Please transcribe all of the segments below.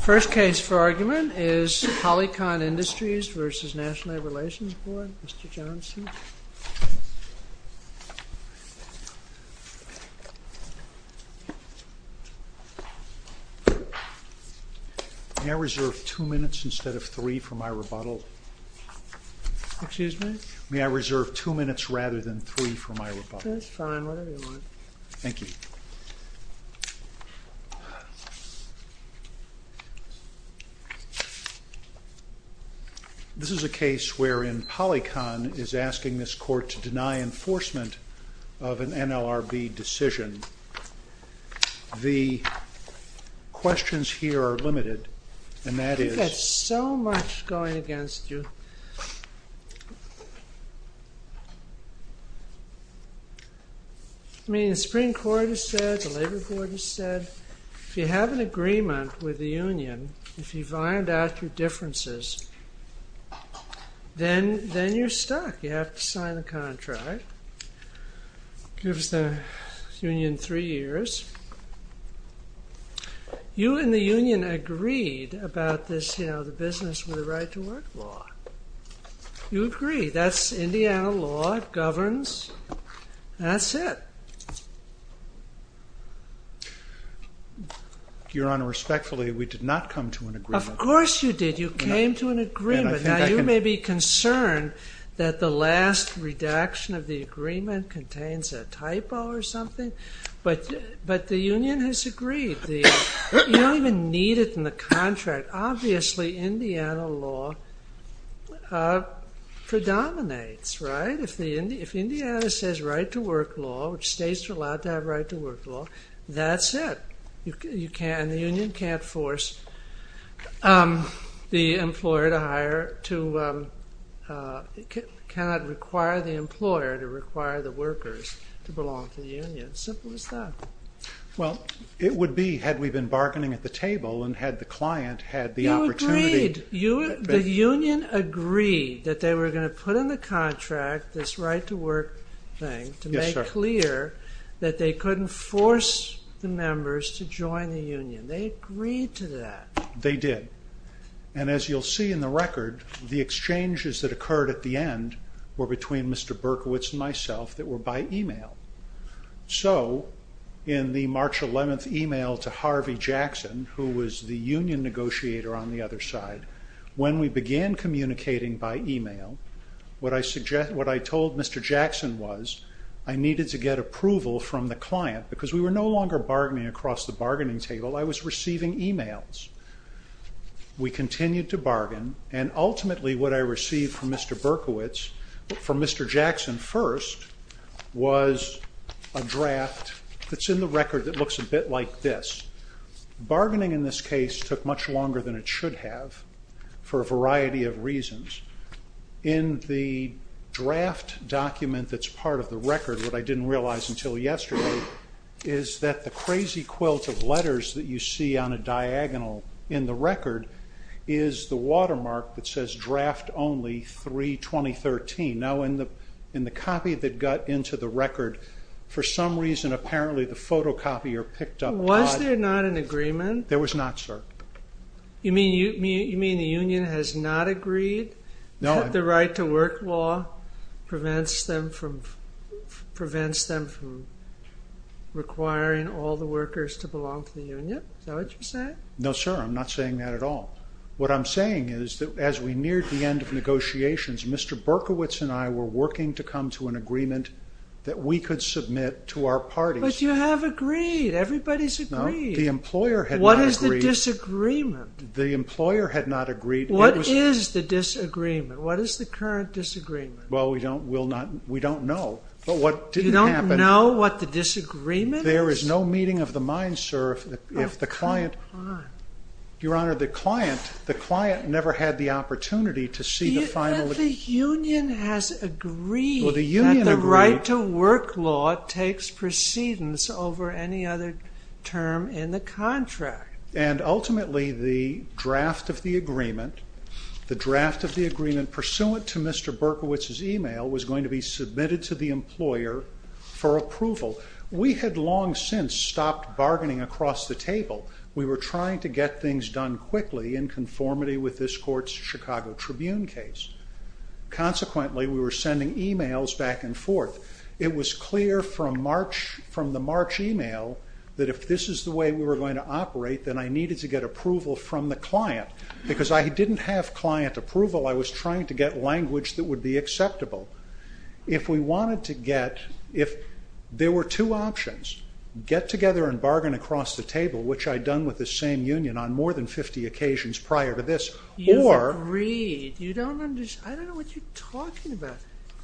First case for argument is Polycon Industries v. National Labor Relations Board, Mr. Johnson. May I reserve two minutes instead of three for my rebuttal? Excuse me? May I reserve two minutes rather than three for my rebuttal? That's fine, whatever you want. Thank you. This is a case wherein Polycon is asking this court to deny enforcement of an NLRB decision. The questions here are limited, and that is... We've had so much going against you. I mean, the Supreme Court has said, the Labor Board has said, if you have an agreement with the union, if you've ironed out your differences, then you're stuck. You have to sign the contract. It gives the union three years. You and the union agreed about this, you know, the business with the right to work law. You agree. That's Indiana law. It governs. That's it. Your Honor, respectfully, we did not come to an agreement. Of course you did. You came to an agreement. Now, you may be concerned that the last redaction of the agreement contains a typo or something, but the union has agreed. You don't even need it in the contract. Obviously, Indiana law predominates, right? If Indiana says right to work law, which states are allowed to have right to work law, that's it. The union can't force the employer to hire, cannot require the employer to require the workers to belong to the union. Simple as that. Well, it would be, had we been bargaining at the table, and had the client had the opportunity... You agreed. The union agreed that they were going to put in the contract this right to work thing to make clear that they couldn't force the members to join the union. They agreed to that. They did. And as you'll see in the record, the exchanges that occurred at the end were between Mr. Berkowitz and myself that were by email. So, in the March 11th email to Harvey Jackson, who was the union negotiator on the other side, when we began communicating by email, what I told Mr. Jackson was, I needed to get approval from the client, because we were no longer bargaining across the bargaining table. I was receiving emails. We continued to bargain, and ultimately what I received from Mr. Berkowitz, from Mr. Jackson first, was a draft that's in the record that looks a bit like this. Bargaining in this case took much longer than it should have for a variety of reasons. In the draft document that's part of the record, what I didn't realize until yesterday, is that the crazy quilt of letters that you see on a diagonal in the record is the watermark that says draft only 3-2013. Now, in the copy that got into the record, for some reason apparently the photocopier picked up... Was there not an agreement? There was not, sir. You mean the union has not agreed that the right to work law prevents them from requiring all the workers to belong to the union? Is that what you're saying? No, sir. I'm not saying that at all. What I'm saying is that as we neared the end of negotiations, Mr. Berkowitz and I were working to come to an agreement that we could submit to our parties. But you have agreed. Everybody's agreed. No, the employer had not agreed. What is the disagreement? The employer had not agreed. What is the disagreement? What is the current disagreement? Well, we don't know, but what did happen... You don't know what the disagreement is? There is no meeting of the mind, sir, if the client... Oh, come on. Your Honor, the client never had the opportunity to see the final... But the union has agreed that the right to work law takes precedence over any other term in the contract. And ultimately the draft of the agreement, the draft of the agreement pursuant to Mr. Berkowitz's email was going to be submitted to the employer for approval. We had long since stopped bargaining across the table. We were trying to get things done quickly in conformity with this court's Chicago Tribune case. Consequently, we were sending emails back and forth. It was clear from the March email that if this is the way we were going to operate, then I needed to get approval from the client. Because I didn't have client approval, I was trying to get language that would be acceptable. If we wanted to get... If there were two options, get together and bargain across the table, which I'd done with the same union on more than 50 occasions prior to this, or... You agreed. You don't understand. I don't know what you're talking about.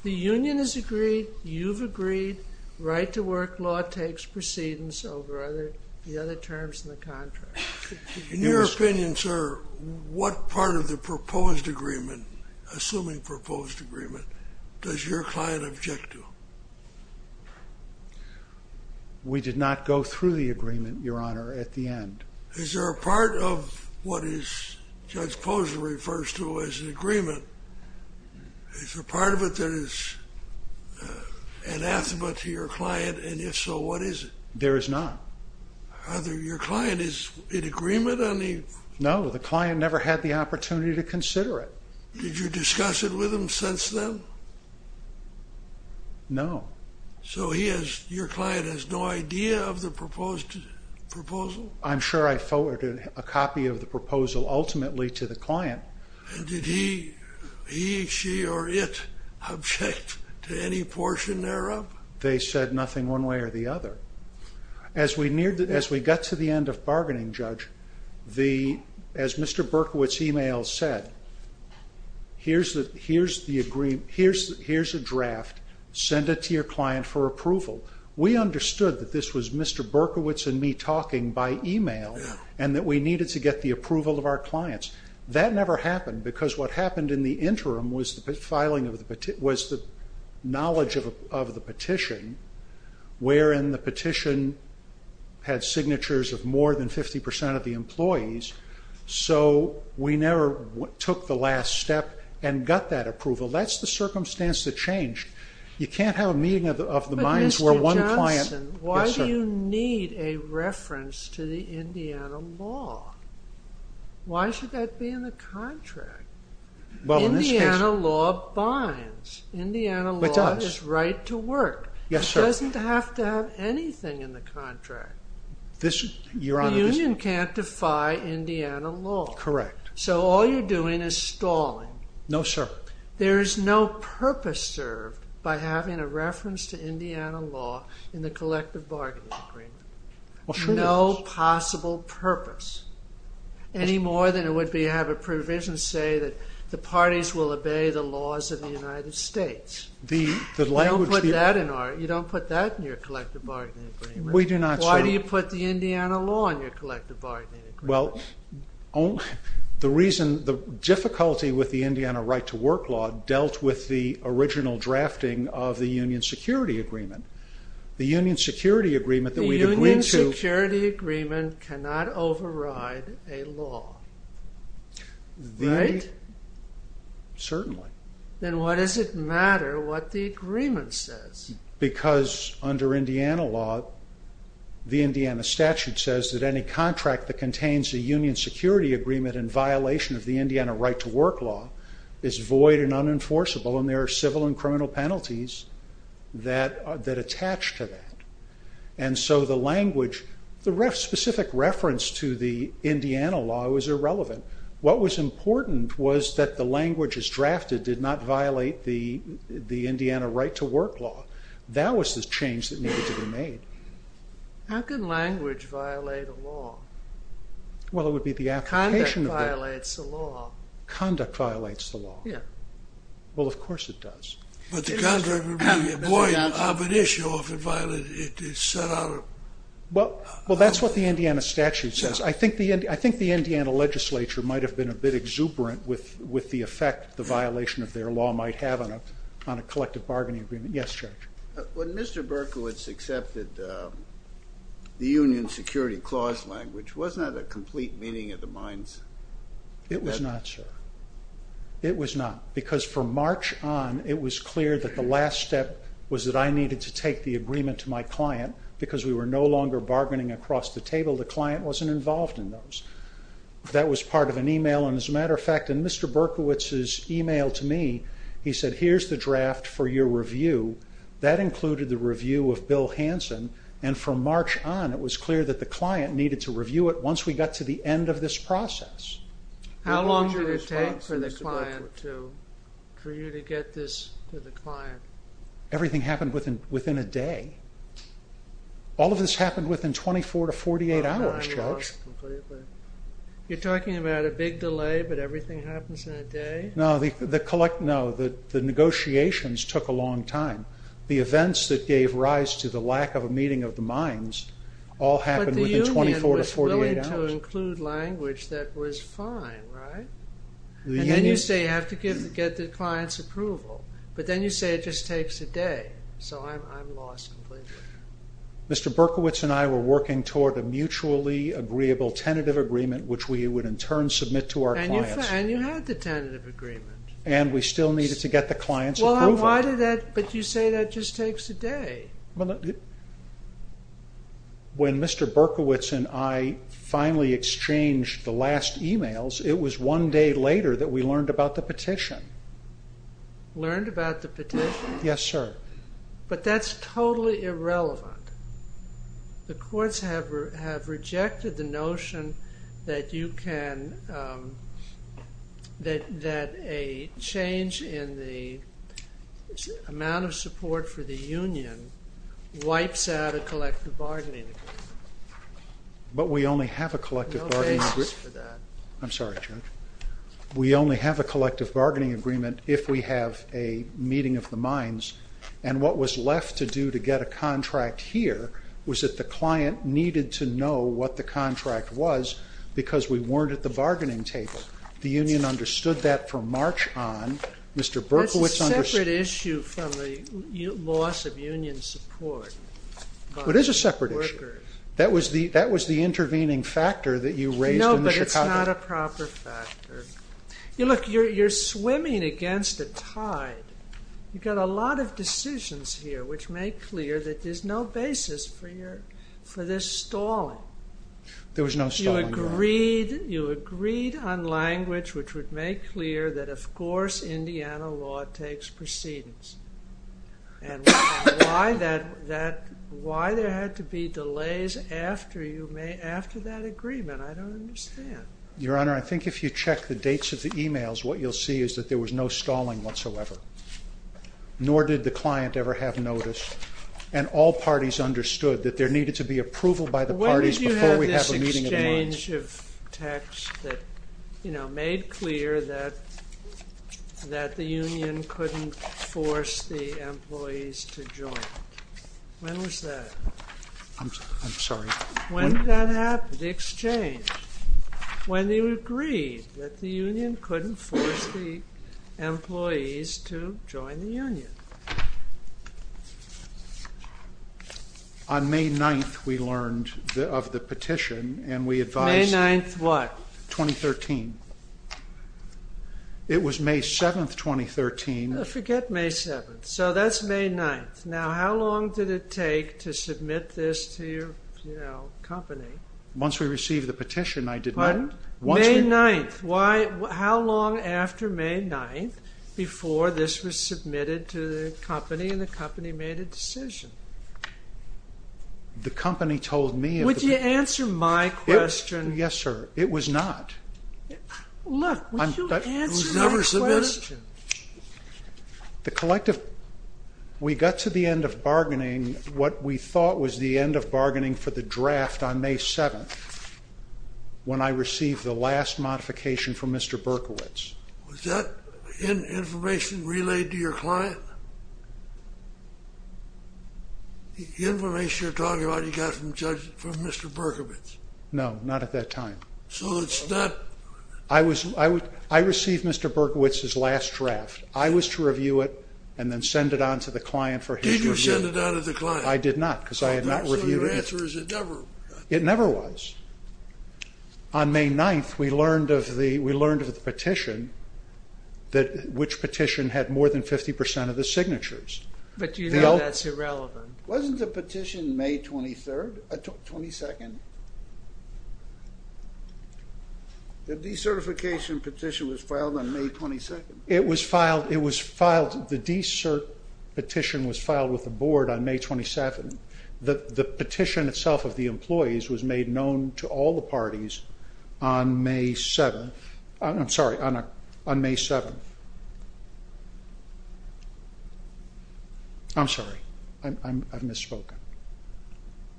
The union has agreed, you've agreed, right to work law takes precedence over the other terms in the contract. In your opinion, sir, what part of the proposed agreement, assuming proposed agreement, does your client object to? We did not go through the agreement, Your Honor, at the end. Is there a part of what Judge Posner refers to as an agreement, is there a part of it that is anathema to your client, and if so, what is it? There is not. Either your client is in agreement on the... No, the client never had the opportunity to consider it. Did you discuss it with him since then? No. So your client has no idea of the proposed proposal? I'm sure I forwarded a copy of the proposal ultimately to the client. And did he, she, or it object to any portion thereof? They said nothing one way or the other. As we got to the end of bargaining, Judge, as Mr. Berkowitz's email said, here's a draft, send it to your client for approval. We understood that this was Mr. Berkowitz and me talking by email and that we needed to get the approval of our clients. That never happened because what happened in the interim was the knowledge of the petition, wherein the petition had signatures of more than 50% of the employees, so we never took the last step and got that approval. That's the circumstance that changed. You can't have a meeting of the minds where one client... But Mr. Johnson, why do you need a reference to the Indiana law? Why should that be in the contract? Indiana law binds. Indiana law is right to work. It doesn't have to have anything in the contract. The union can't defy Indiana law. Correct. So all you're doing is stalling. No, sir. There is no purpose served by having a reference to Indiana law in the collective bargaining agreement. Well, sure there is. No possible purpose, any more than it would be to have a provision say that the parties will obey the laws of the United States. You don't put that in your collective bargaining agreement. We do not, sir. Why do you put the Indiana law in your collective bargaining agreement? Well, the difficulty with the Indiana right to work law dealt with the original drafting of the union security agreement. The union security agreement that we agreed to... The union security agreement cannot override a law. Right? Certainly. Then why does it matter what the agreement says? Because under Indiana law, the Indiana statute says that any contract that contains a union security agreement in violation of the Indiana right to work law is void and unenforceable, and there are civil and criminal penalties that attach to that. And so the language, the specific reference to the Indiana law was irrelevant. What was important was that the language as drafted did not violate the Indiana right to work law. That was the change that needed to be made. How can language violate a law? Well, it would be the application of the law. Conduct violates the law. Conduct violates the law. Yeah. Well, of course it does. But the contract would be a void of an issue if it violated... Well, that's what the Indiana statute says. I think the Indiana legislature might have been a bit exuberant with the effect the violation of their law might have on a collective bargaining agreement. Yes, Judge. When Mr. Berkowitz accepted the union security clause language, wasn't that a complete meeting of the minds? It was not, sir. It was not, because from March on, it was clear that the last step was that I needed to take the agreement to my client because we were no longer bargaining across the table. The client wasn't involved in those. That was part of an email, and as a matter of fact, in Mr. Berkowitz's email to me, he said, here's the draft for your review. That included the review of Bill Hanson, and from March on, it was clear that the client needed to review it once we got to the end of this process. How long did it take for the client to... for you to get this to the client? Everything happened within a day. All of this happened within 24 to 48 hours, Judge. You're talking about a big delay, but everything happens in a day? No, the negotiations took a long time. The events that gave rise to the lack of a meeting of the minds all happened within 24 to 48 hours. But the union was willing to include language that was fine, right? And then you say you have to get the client's approval, but then you say it just takes a day, so I'm lost completely. Mr. Berkowitz and I were working toward a mutually agreeable tentative agreement, which we would in turn submit to our clients. And you had the tentative agreement. And we still needed to get the client's approval. But you say that just takes a day. When Mr. Berkowitz and I finally exchanged the last emails, it was one day later that we learned about the petition. Learned about the petition? Yes, sir. But that's totally irrelevant. The courts have rejected the notion that you can, that a change in the amount of support for the union wipes out a collective bargaining agreement. But we only have a collective bargaining agreement. No basis for that. I'm sorry, Judge. We only have a collective bargaining agreement if we have a meeting of the minds. And what was left to do to get a contract here was that the client needed to know what the contract was because we weren't at the bargaining table. The union understood that from March on. That's a separate issue from the loss of union support. It is a separate issue. That was the intervening factor that you raised. No, but it's not a proper factor. Look, you're swimming against a tide. You've got a lot of decisions here which make clear that there's no basis for this stalling. There was no stalling, Your Honor. You agreed on language which would make clear that, of course, Indiana law takes precedence. And why there had to be delays after that agreement, I don't understand. Your Honor, I think if you check the dates of the e-mails, what you'll see is that there was no stalling whatsoever. Nor did the client ever have notice. And all parties understood that there needed to be approval by the parties before we had a meeting of the minds. When did you have this exchange of texts that made clear that the union couldn't force the employees to join? When was that? I'm sorry? When did that happen, the exchange? When you agreed that the union couldn't force the employees to join the union? On May 9th we learned of the petition and we advised... May 9th what? 2013. It was May 7th, 2013. Forget May 7th. So that's May 9th. Now how long did it take to submit this to your company? Once we received the petition, I did not... Pardon? May 9th. How long after May 9th before this was submitted to the company and the company made a decision? The company told me... Would you answer my question? Yes, sir. It was not. Look, would you answer my question? The collective... We got to the end of bargaining, what we thought was the end of bargaining for the draft on May 7th when I received the last modification from Mr. Berkowitz. Was that information relayed to your client? The information you're talking about you got from Mr. Berkowitz? No, not at that time. So it's not... I received Mr. Berkowitz's last draft. I was to review it and then send it on to the client for his review. Did you send it on to the client? I did not because I had not reviewed it. So your answer is it never... It never was. On May 9th, we learned of the petition which petition had more than 50% of the signatures. But you know that's irrelevant. Wasn't the petition May 22nd? The decertification petition was filed on May 22nd? It was filed... The decert petition was filed with the board on May 27th. The petition itself of the employees was made known to all the parties on May 7th. I'm sorry, on May 7th. I'm sorry. I've misspoken.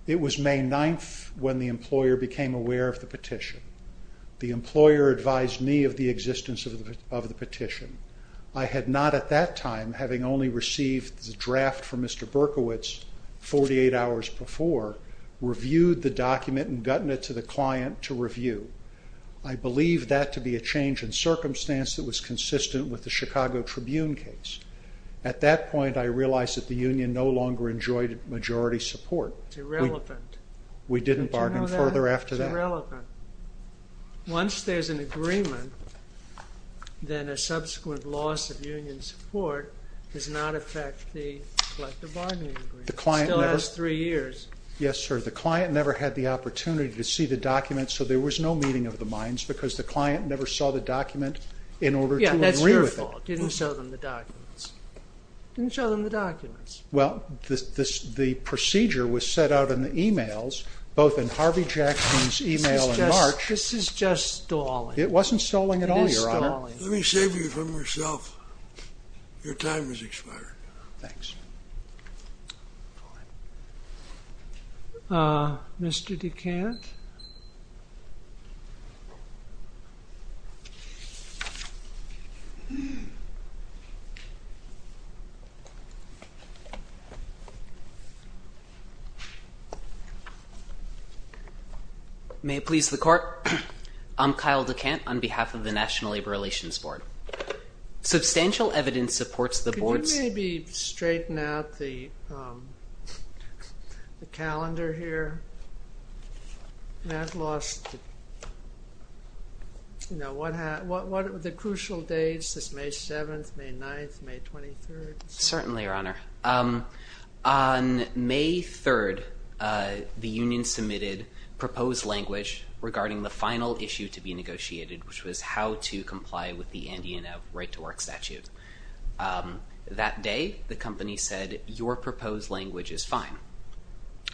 It was May 9th when the employer became aware of the petition. The employer advised me of the existence of the petition. I had not at that time, having only received the draft from Mr. Berkowitz 48 hours before, reviewed the document and gotten it to the client to review. I believe that to be a change in circumstance that was consistent with the Chicago Tribune case. At that point, I realized that the union no longer enjoyed majority support. It's irrelevant. We didn't bargain further after that. It's irrelevant. Once there's an agreement, then a subsequent loss of union support does not affect the collective bargaining agreement. It still has three years. Yes, sir. The client never had the opportunity to see the document, so there was no meeting of the minds because the client never saw the document in order to agree with it. Yeah, that's your fault. You didn't show them the documents. You didn't show them the documents. Well, the procedure was set out in the e-mails, both in Harvey Jackson's e-mail in March. This is just stalling. It wasn't stalling at all, Your Honor. It is stalling. Let me save you from yourself. Your time has expired. Thanks. Mr. DeCant? May it please the court? I'm Kyle DeCant on behalf of the National Labor Relations Board. Substantial evidence supports the board's... Could you maybe straighten out the calendar here? Matt lost the crucial dates. This is May 7th, May 9th, May 29th. Certainly, Your Honor. On May 3rd, the union submitted proposed language regarding the final issue to be negotiated, which was how to comply with the Andy and Ev right-to-work statute. That day, the company said, your proposed language is fine.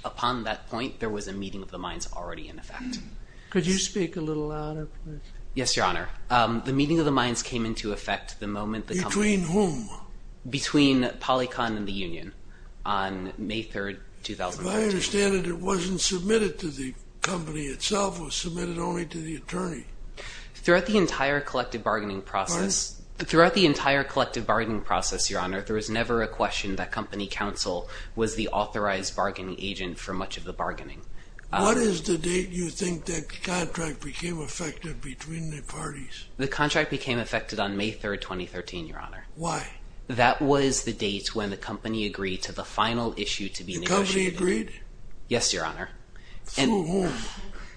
Upon that point, there was a meeting of the minds already in effect. Could you speak a little louder, please? Yes, Your Honor. The meeting of the minds came into effect the moment the company... Between whom? Between PolyCon and the union on May 3rd, 2014. If I understand it, it wasn't submitted to the company itself. It was submitted only to the attorney. Throughout the entire collective bargaining process... Pardon? Throughout the entire collective bargaining process, Your Honor, there was never a question that company counsel was the authorized bargaining agent for much of the bargaining. What is the date you think that contract became effective between the parties? The contract became effective on May 3rd, 2013, Your Honor. Why? That was the date when the company agreed to the final issue to be negotiated. The company agreed? Yes, Your Honor. Through whom?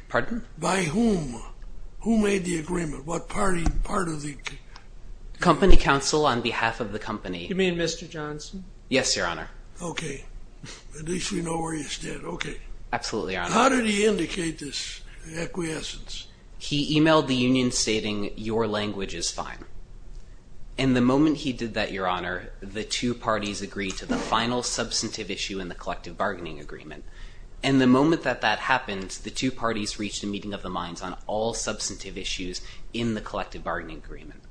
Pardon? By whom? Who made the agreement? What party? Part of the... Company counsel on behalf of the company. You mean Mr. Johnson? Yes, Your Honor. Okay. At least we know where he stood. Okay. Absolutely, Your Honor. How did he indicate this acquiescence? He emailed the union stating, Your language is fine. And the moment he did that, Your Honor, the two parties agreed to the final substantive issue in the collective bargaining agreement. And the moment that that happened, the two parties reached a meeting of the minds on all substantive issues in the collective bargaining agreement.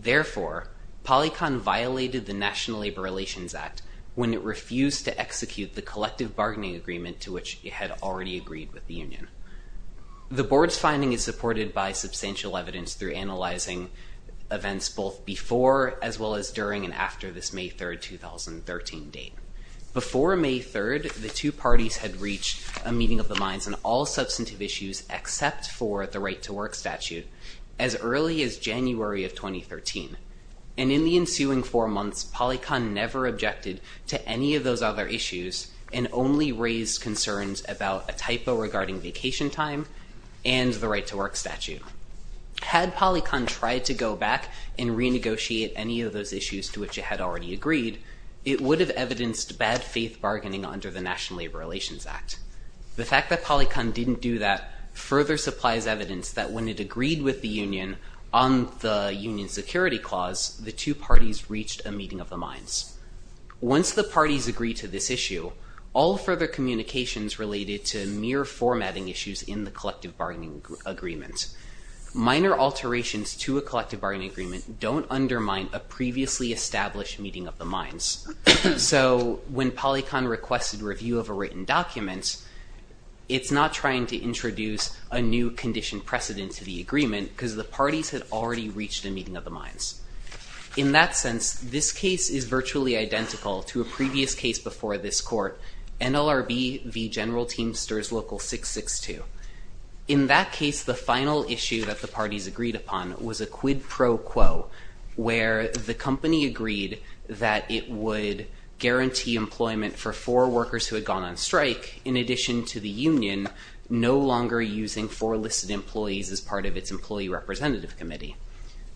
Therefore, PolyCon violated the National Labor Relations Act when it refused to execute the collective bargaining agreement to which it had already agreed with the union. The board's finding is supported by substantial evidence through analyzing events both before as well as during and after this May 3rd, 2013 date. Before May 3rd, the two parties had reached a meeting of the minds on all substantive issues except for the right to work statute as early as January of 2013. And in the ensuing four months, PolyCon never objected to any of those other issues and only raised concerns about a typo regarding vacation time and the right to work statute. Had PolyCon tried to go back and renegotiate any of those issues to which it had already agreed, it would have evidenced bad faith bargaining under the National Labor Relations Act. The fact that PolyCon didn't do that further supplies evidence that when it agreed with the union on the union security clause, the two parties reached a meeting of the minds. Once the parties agree to this issue, all further communications related to mere formatting issues in the collective bargaining agreement. Minor alterations to a collective bargaining agreement don't undermine a previously established meeting of the minds. So when PolyCon requested review of a written document, it's not trying to introduce a new condition precedent to the agreement because the parties had already reached a meeting of the minds. In that sense, this case is virtually identical to a previous case before this court, NLRB v. General Teamsters Local 662. In that case, the final issue that the parties agreed upon was a quid pro quo, where the company agreed that it would guarantee employment for four workers who had gone on strike in addition to the union no longer using four listed employees as part of its employee representative committee.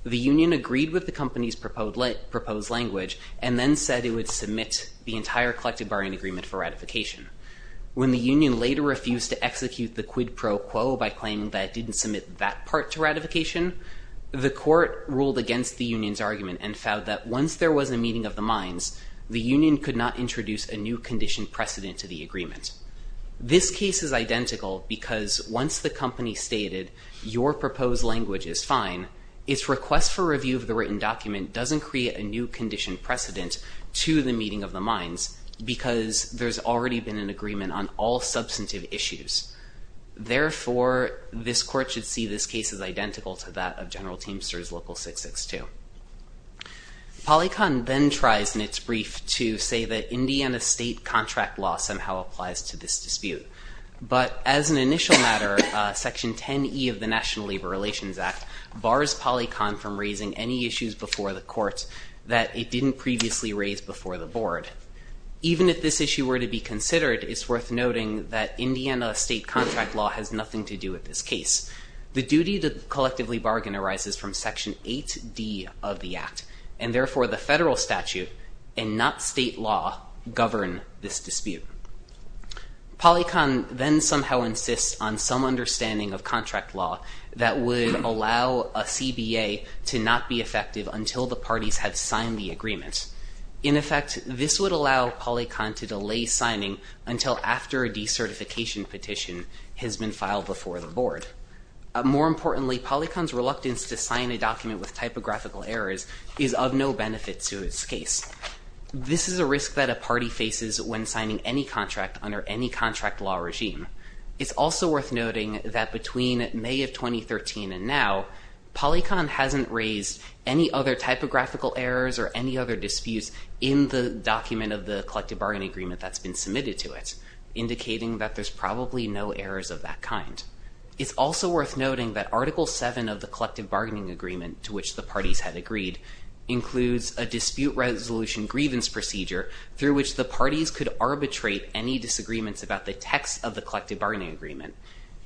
The union agreed with the company's proposed language and then said it would submit the entire collective bargaining agreement for ratification. When the union later refused to execute the quid pro quo by claiming that it didn't submit that part to ratification, the court ruled against the union's argument and found that once there was a meeting of the minds, the union could not introduce a new condition precedent to the agreement. This case is identical because once the company stated your proposed language is fine, its request for review of the written document doesn't create a new condition precedent to the meeting of the minds because there's already been an agreement on all substantive issues. Therefore, this court should see this case as identical to that of General Teamsters Local 662. PolyCon then tries in its brief to say that Indiana state contract law somehow applies to this dispute. But as an initial matter, Section 10E of the National Labor Relations Act bars PolyCon from raising any issues before the court that it didn't previously raise before the board. Even if this issue were to be considered, it's worth noting that Indiana state contract law has nothing to do with this case. The duty to collectively bargain arises from Section 8D of the act, and therefore the federal statute and not state law govern this dispute. PolyCon then somehow insists on some understanding of contract law that would allow a CBA to not be effective until the parties have signed the agreement. In effect, this would allow PolyCon to delay signing until after a decertification petition has been filed before the board. More importantly, PolyCon's reluctance to sign a document with typographical errors is of no benefit to its case. This is a risk that a party faces when signing any contract under any contract law regime. It's also worth noting that between May of 2013 and now, PolyCon hasn't raised any other typographical errors or any other disputes in the document of the collective bargaining agreement that's been submitted to it, indicating that there's probably no errors of that kind. It's also worth noting that Article 7 of the collective bargaining agreement to which the parties had agreed includes a dispute resolution grievance procedure through which the parties could arbitrate any disagreements about the text of the collective bargaining agreement.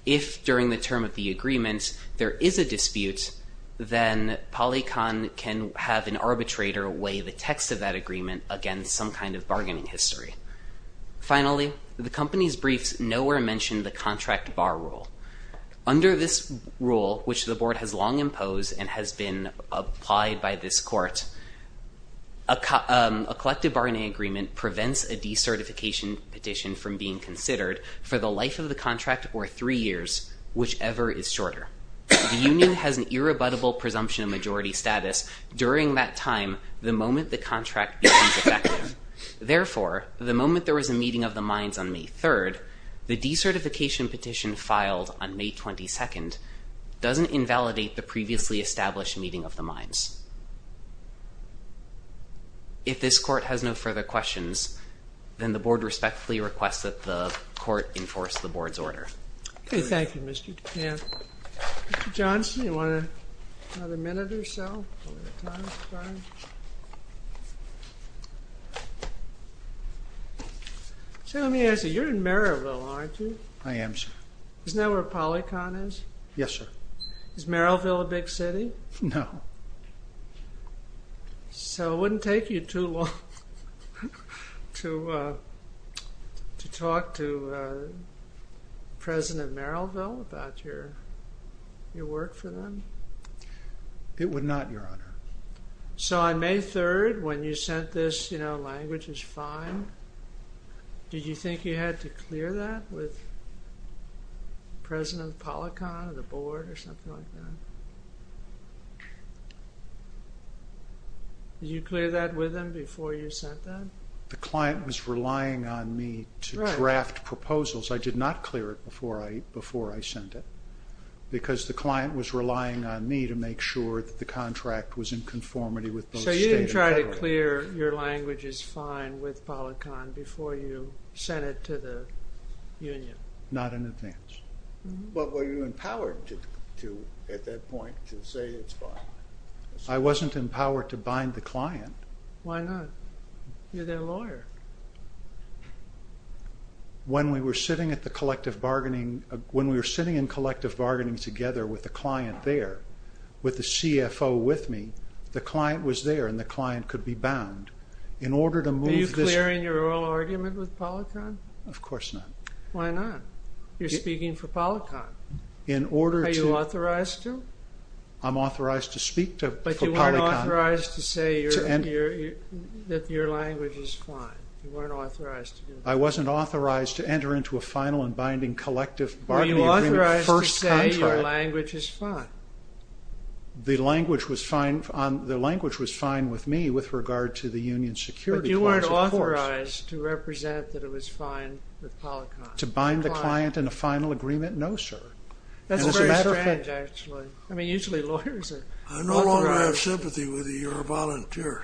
If during the term of the agreement there is a dispute, then PolyCon can have an arbitrator weigh the text of that agreement against some kind of bargaining history. Finally, the company's briefs nowhere mention the contract bar rule. Under this rule, which the board has long imposed and has been applied by this court, a collective bargaining agreement prevents a decertification petition from being considered for the life of the contract or three years, whichever is shorter. The union has an irrebuttable presumption of majority status during that time the moment the contract becomes effective. Therefore, the moment there was a meeting of the minds on May 3, the decertification petition filed on May 22 doesn't invalidate the previously established meeting of the minds. If this court has no further questions, then the board respectfully requests that the court enforce the board's order. Okay, thank you, Mr. DePant. Mr. Johnson, you want another minute or so? So let me ask you, you're in Merrillville, aren't you? I am, sir. Isn't that where PolyCon is? Yes, sir. Is Merrillville a big city? No. So it wouldn't take you too long to talk to President Merrillville about your work for them? It would not, Your Honor. So on May 3, when you sent this, you know, language is fine, did you think you had to clear that with President PolyCon or the board or something like that? Did you clear that with them before you sent that? The client was relying on me to draft proposals. I did not clear it before I sent it because the client was relying on me to make sure that the contract was in conformity with both State and Federal. So you didn't try to clear your language is fine with PolyCon before you sent it to the union? Not in advance. But were you empowered at that point to say it's fine? I wasn't empowered to bind the client. Why not? You're their lawyer. When we were sitting in collective bargaining together with the client there, with the CFO with me, the client was there and the client could be bound. Are you clearing your oral argument with PolyCon? Of course not. Why not? You're speaking for PolyCon. Are you authorized to? I'm authorized to speak for PolyCon. But you weren't authorized to say that your language is fine. You weren't authorized to do that. I wasn't authorized to enter into a final and binding collective bargaining agreement first contract. Were you authorized to say your language is fine? The language was fine with me with regard to the union security clause, of course. But you weren't authorized to represent that it was fine with PolyCon? To bind the client in a final agreement? No, sir. That's very strange, actually. I mean, usually lawyers are authorized. I no longer have sympathy with you. You're a volunteer.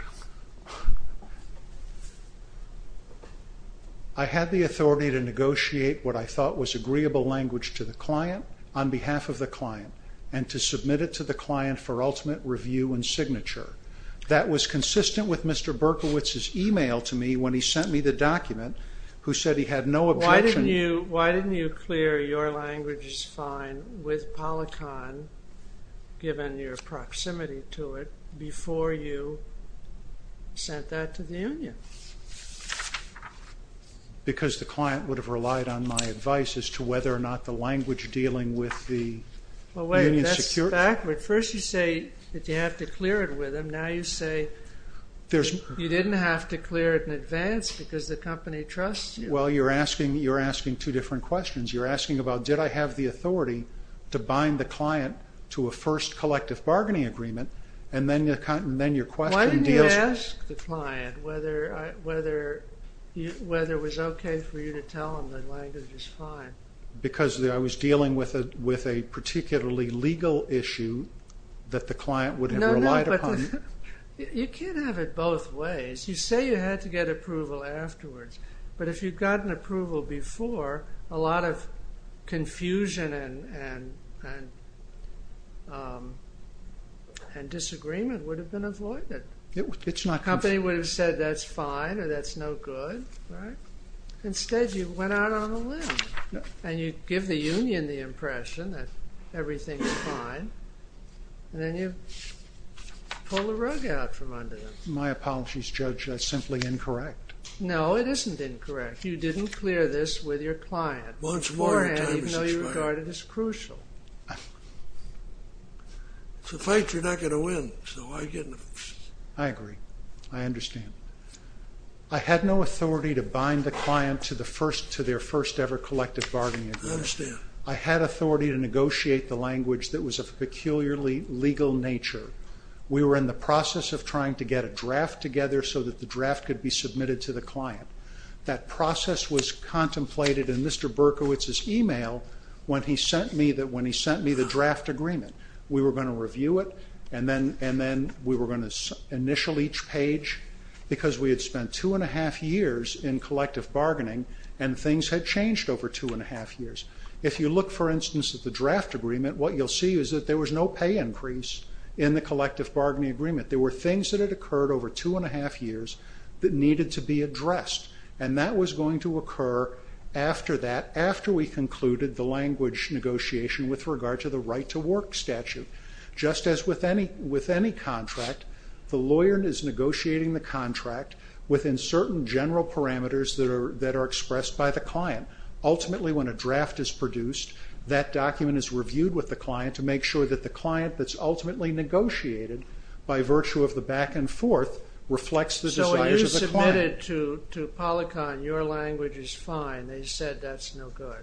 I had the authority to negotiate what I thought was agreeable language to the client on behalf of the client and to submit it to the client for ultimate review and signature. That was consistent with Mr. Berkowitz's email to me when he sent me the document who said he had no objection. Why didn't you clear your language is fine with PolyCon, given your proximity to it, before you sent that to the union? Because the client would have relied on my advice as to whether or not the language dealing with the union security... Well, wait. That's backward. First you say that you have to clear it with them. Now you say you didn't have to clear it in advance because the company trusts you. Well, you're asking two different questions. You're asking about did I have the authority to bind the client to a first collective bargaining agreement and then your question deals... Why didn't you ask the client whether it was okay for you to tell them the language is fine? Because I was dealing with a particularly legal issue that the client would have relied upon. No, no, but you can't have it both ways. You say you had to get approval afterwards, but if you'd gotten approval before, a lot of confusion and disagreement would have been avoided. The company would have said that's fine or that's no good, right? Instead, you went out on a limb and you give the union the impression that everything is fine and then you pull the rug out from under them. My apologies, Judge. That's simply incorrect. No, it isn't incorrect. You didn't clear this with your client beforehand, even though you regarded it as crucial. If it's a fight, you're not going to win. I agree. I understand. I had no authority to bind the client to their first ever collective bargaining agreement. I understand. I had authority to negotiate the language that was of a peculiarly legal nature. We were in the process of trying to get a draft together so that the draft could be submitted to the client. That process was contemplated in Mr. Berkowitz's email when he sent me the draft agreement. We were going to review it and then we were going to initial each page because we had spent two and a half years in collective bargaining and things had changed over two and a half years. If you look, for instance, at the draft agreement, what you'll see is that there was no pay increase in the collective bargaining agreement. There were things that had occurred over two and a half years that needed to be addressed, and that was going to occur after that, after we concluded the language negotiation with regard to the right-to-work statute. Just as with any contract, the lawyer is negotiating the contract within certain general parameters that are expressed by the client. Ultimately, when a draft is produced, that document is reviewed with the client to make sure that the client that's ultimately negotiated by virtue of the back-and-forth reflects the desires of the client. So when you submitted to Polycon, your language is fine. They said that's no good.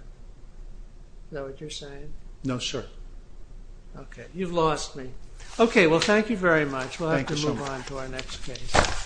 Is that what you're saying? No, sir. Okay. You've lost me. Okay, well, thank you very much. Thank you so much. We'll have to move on to our next case.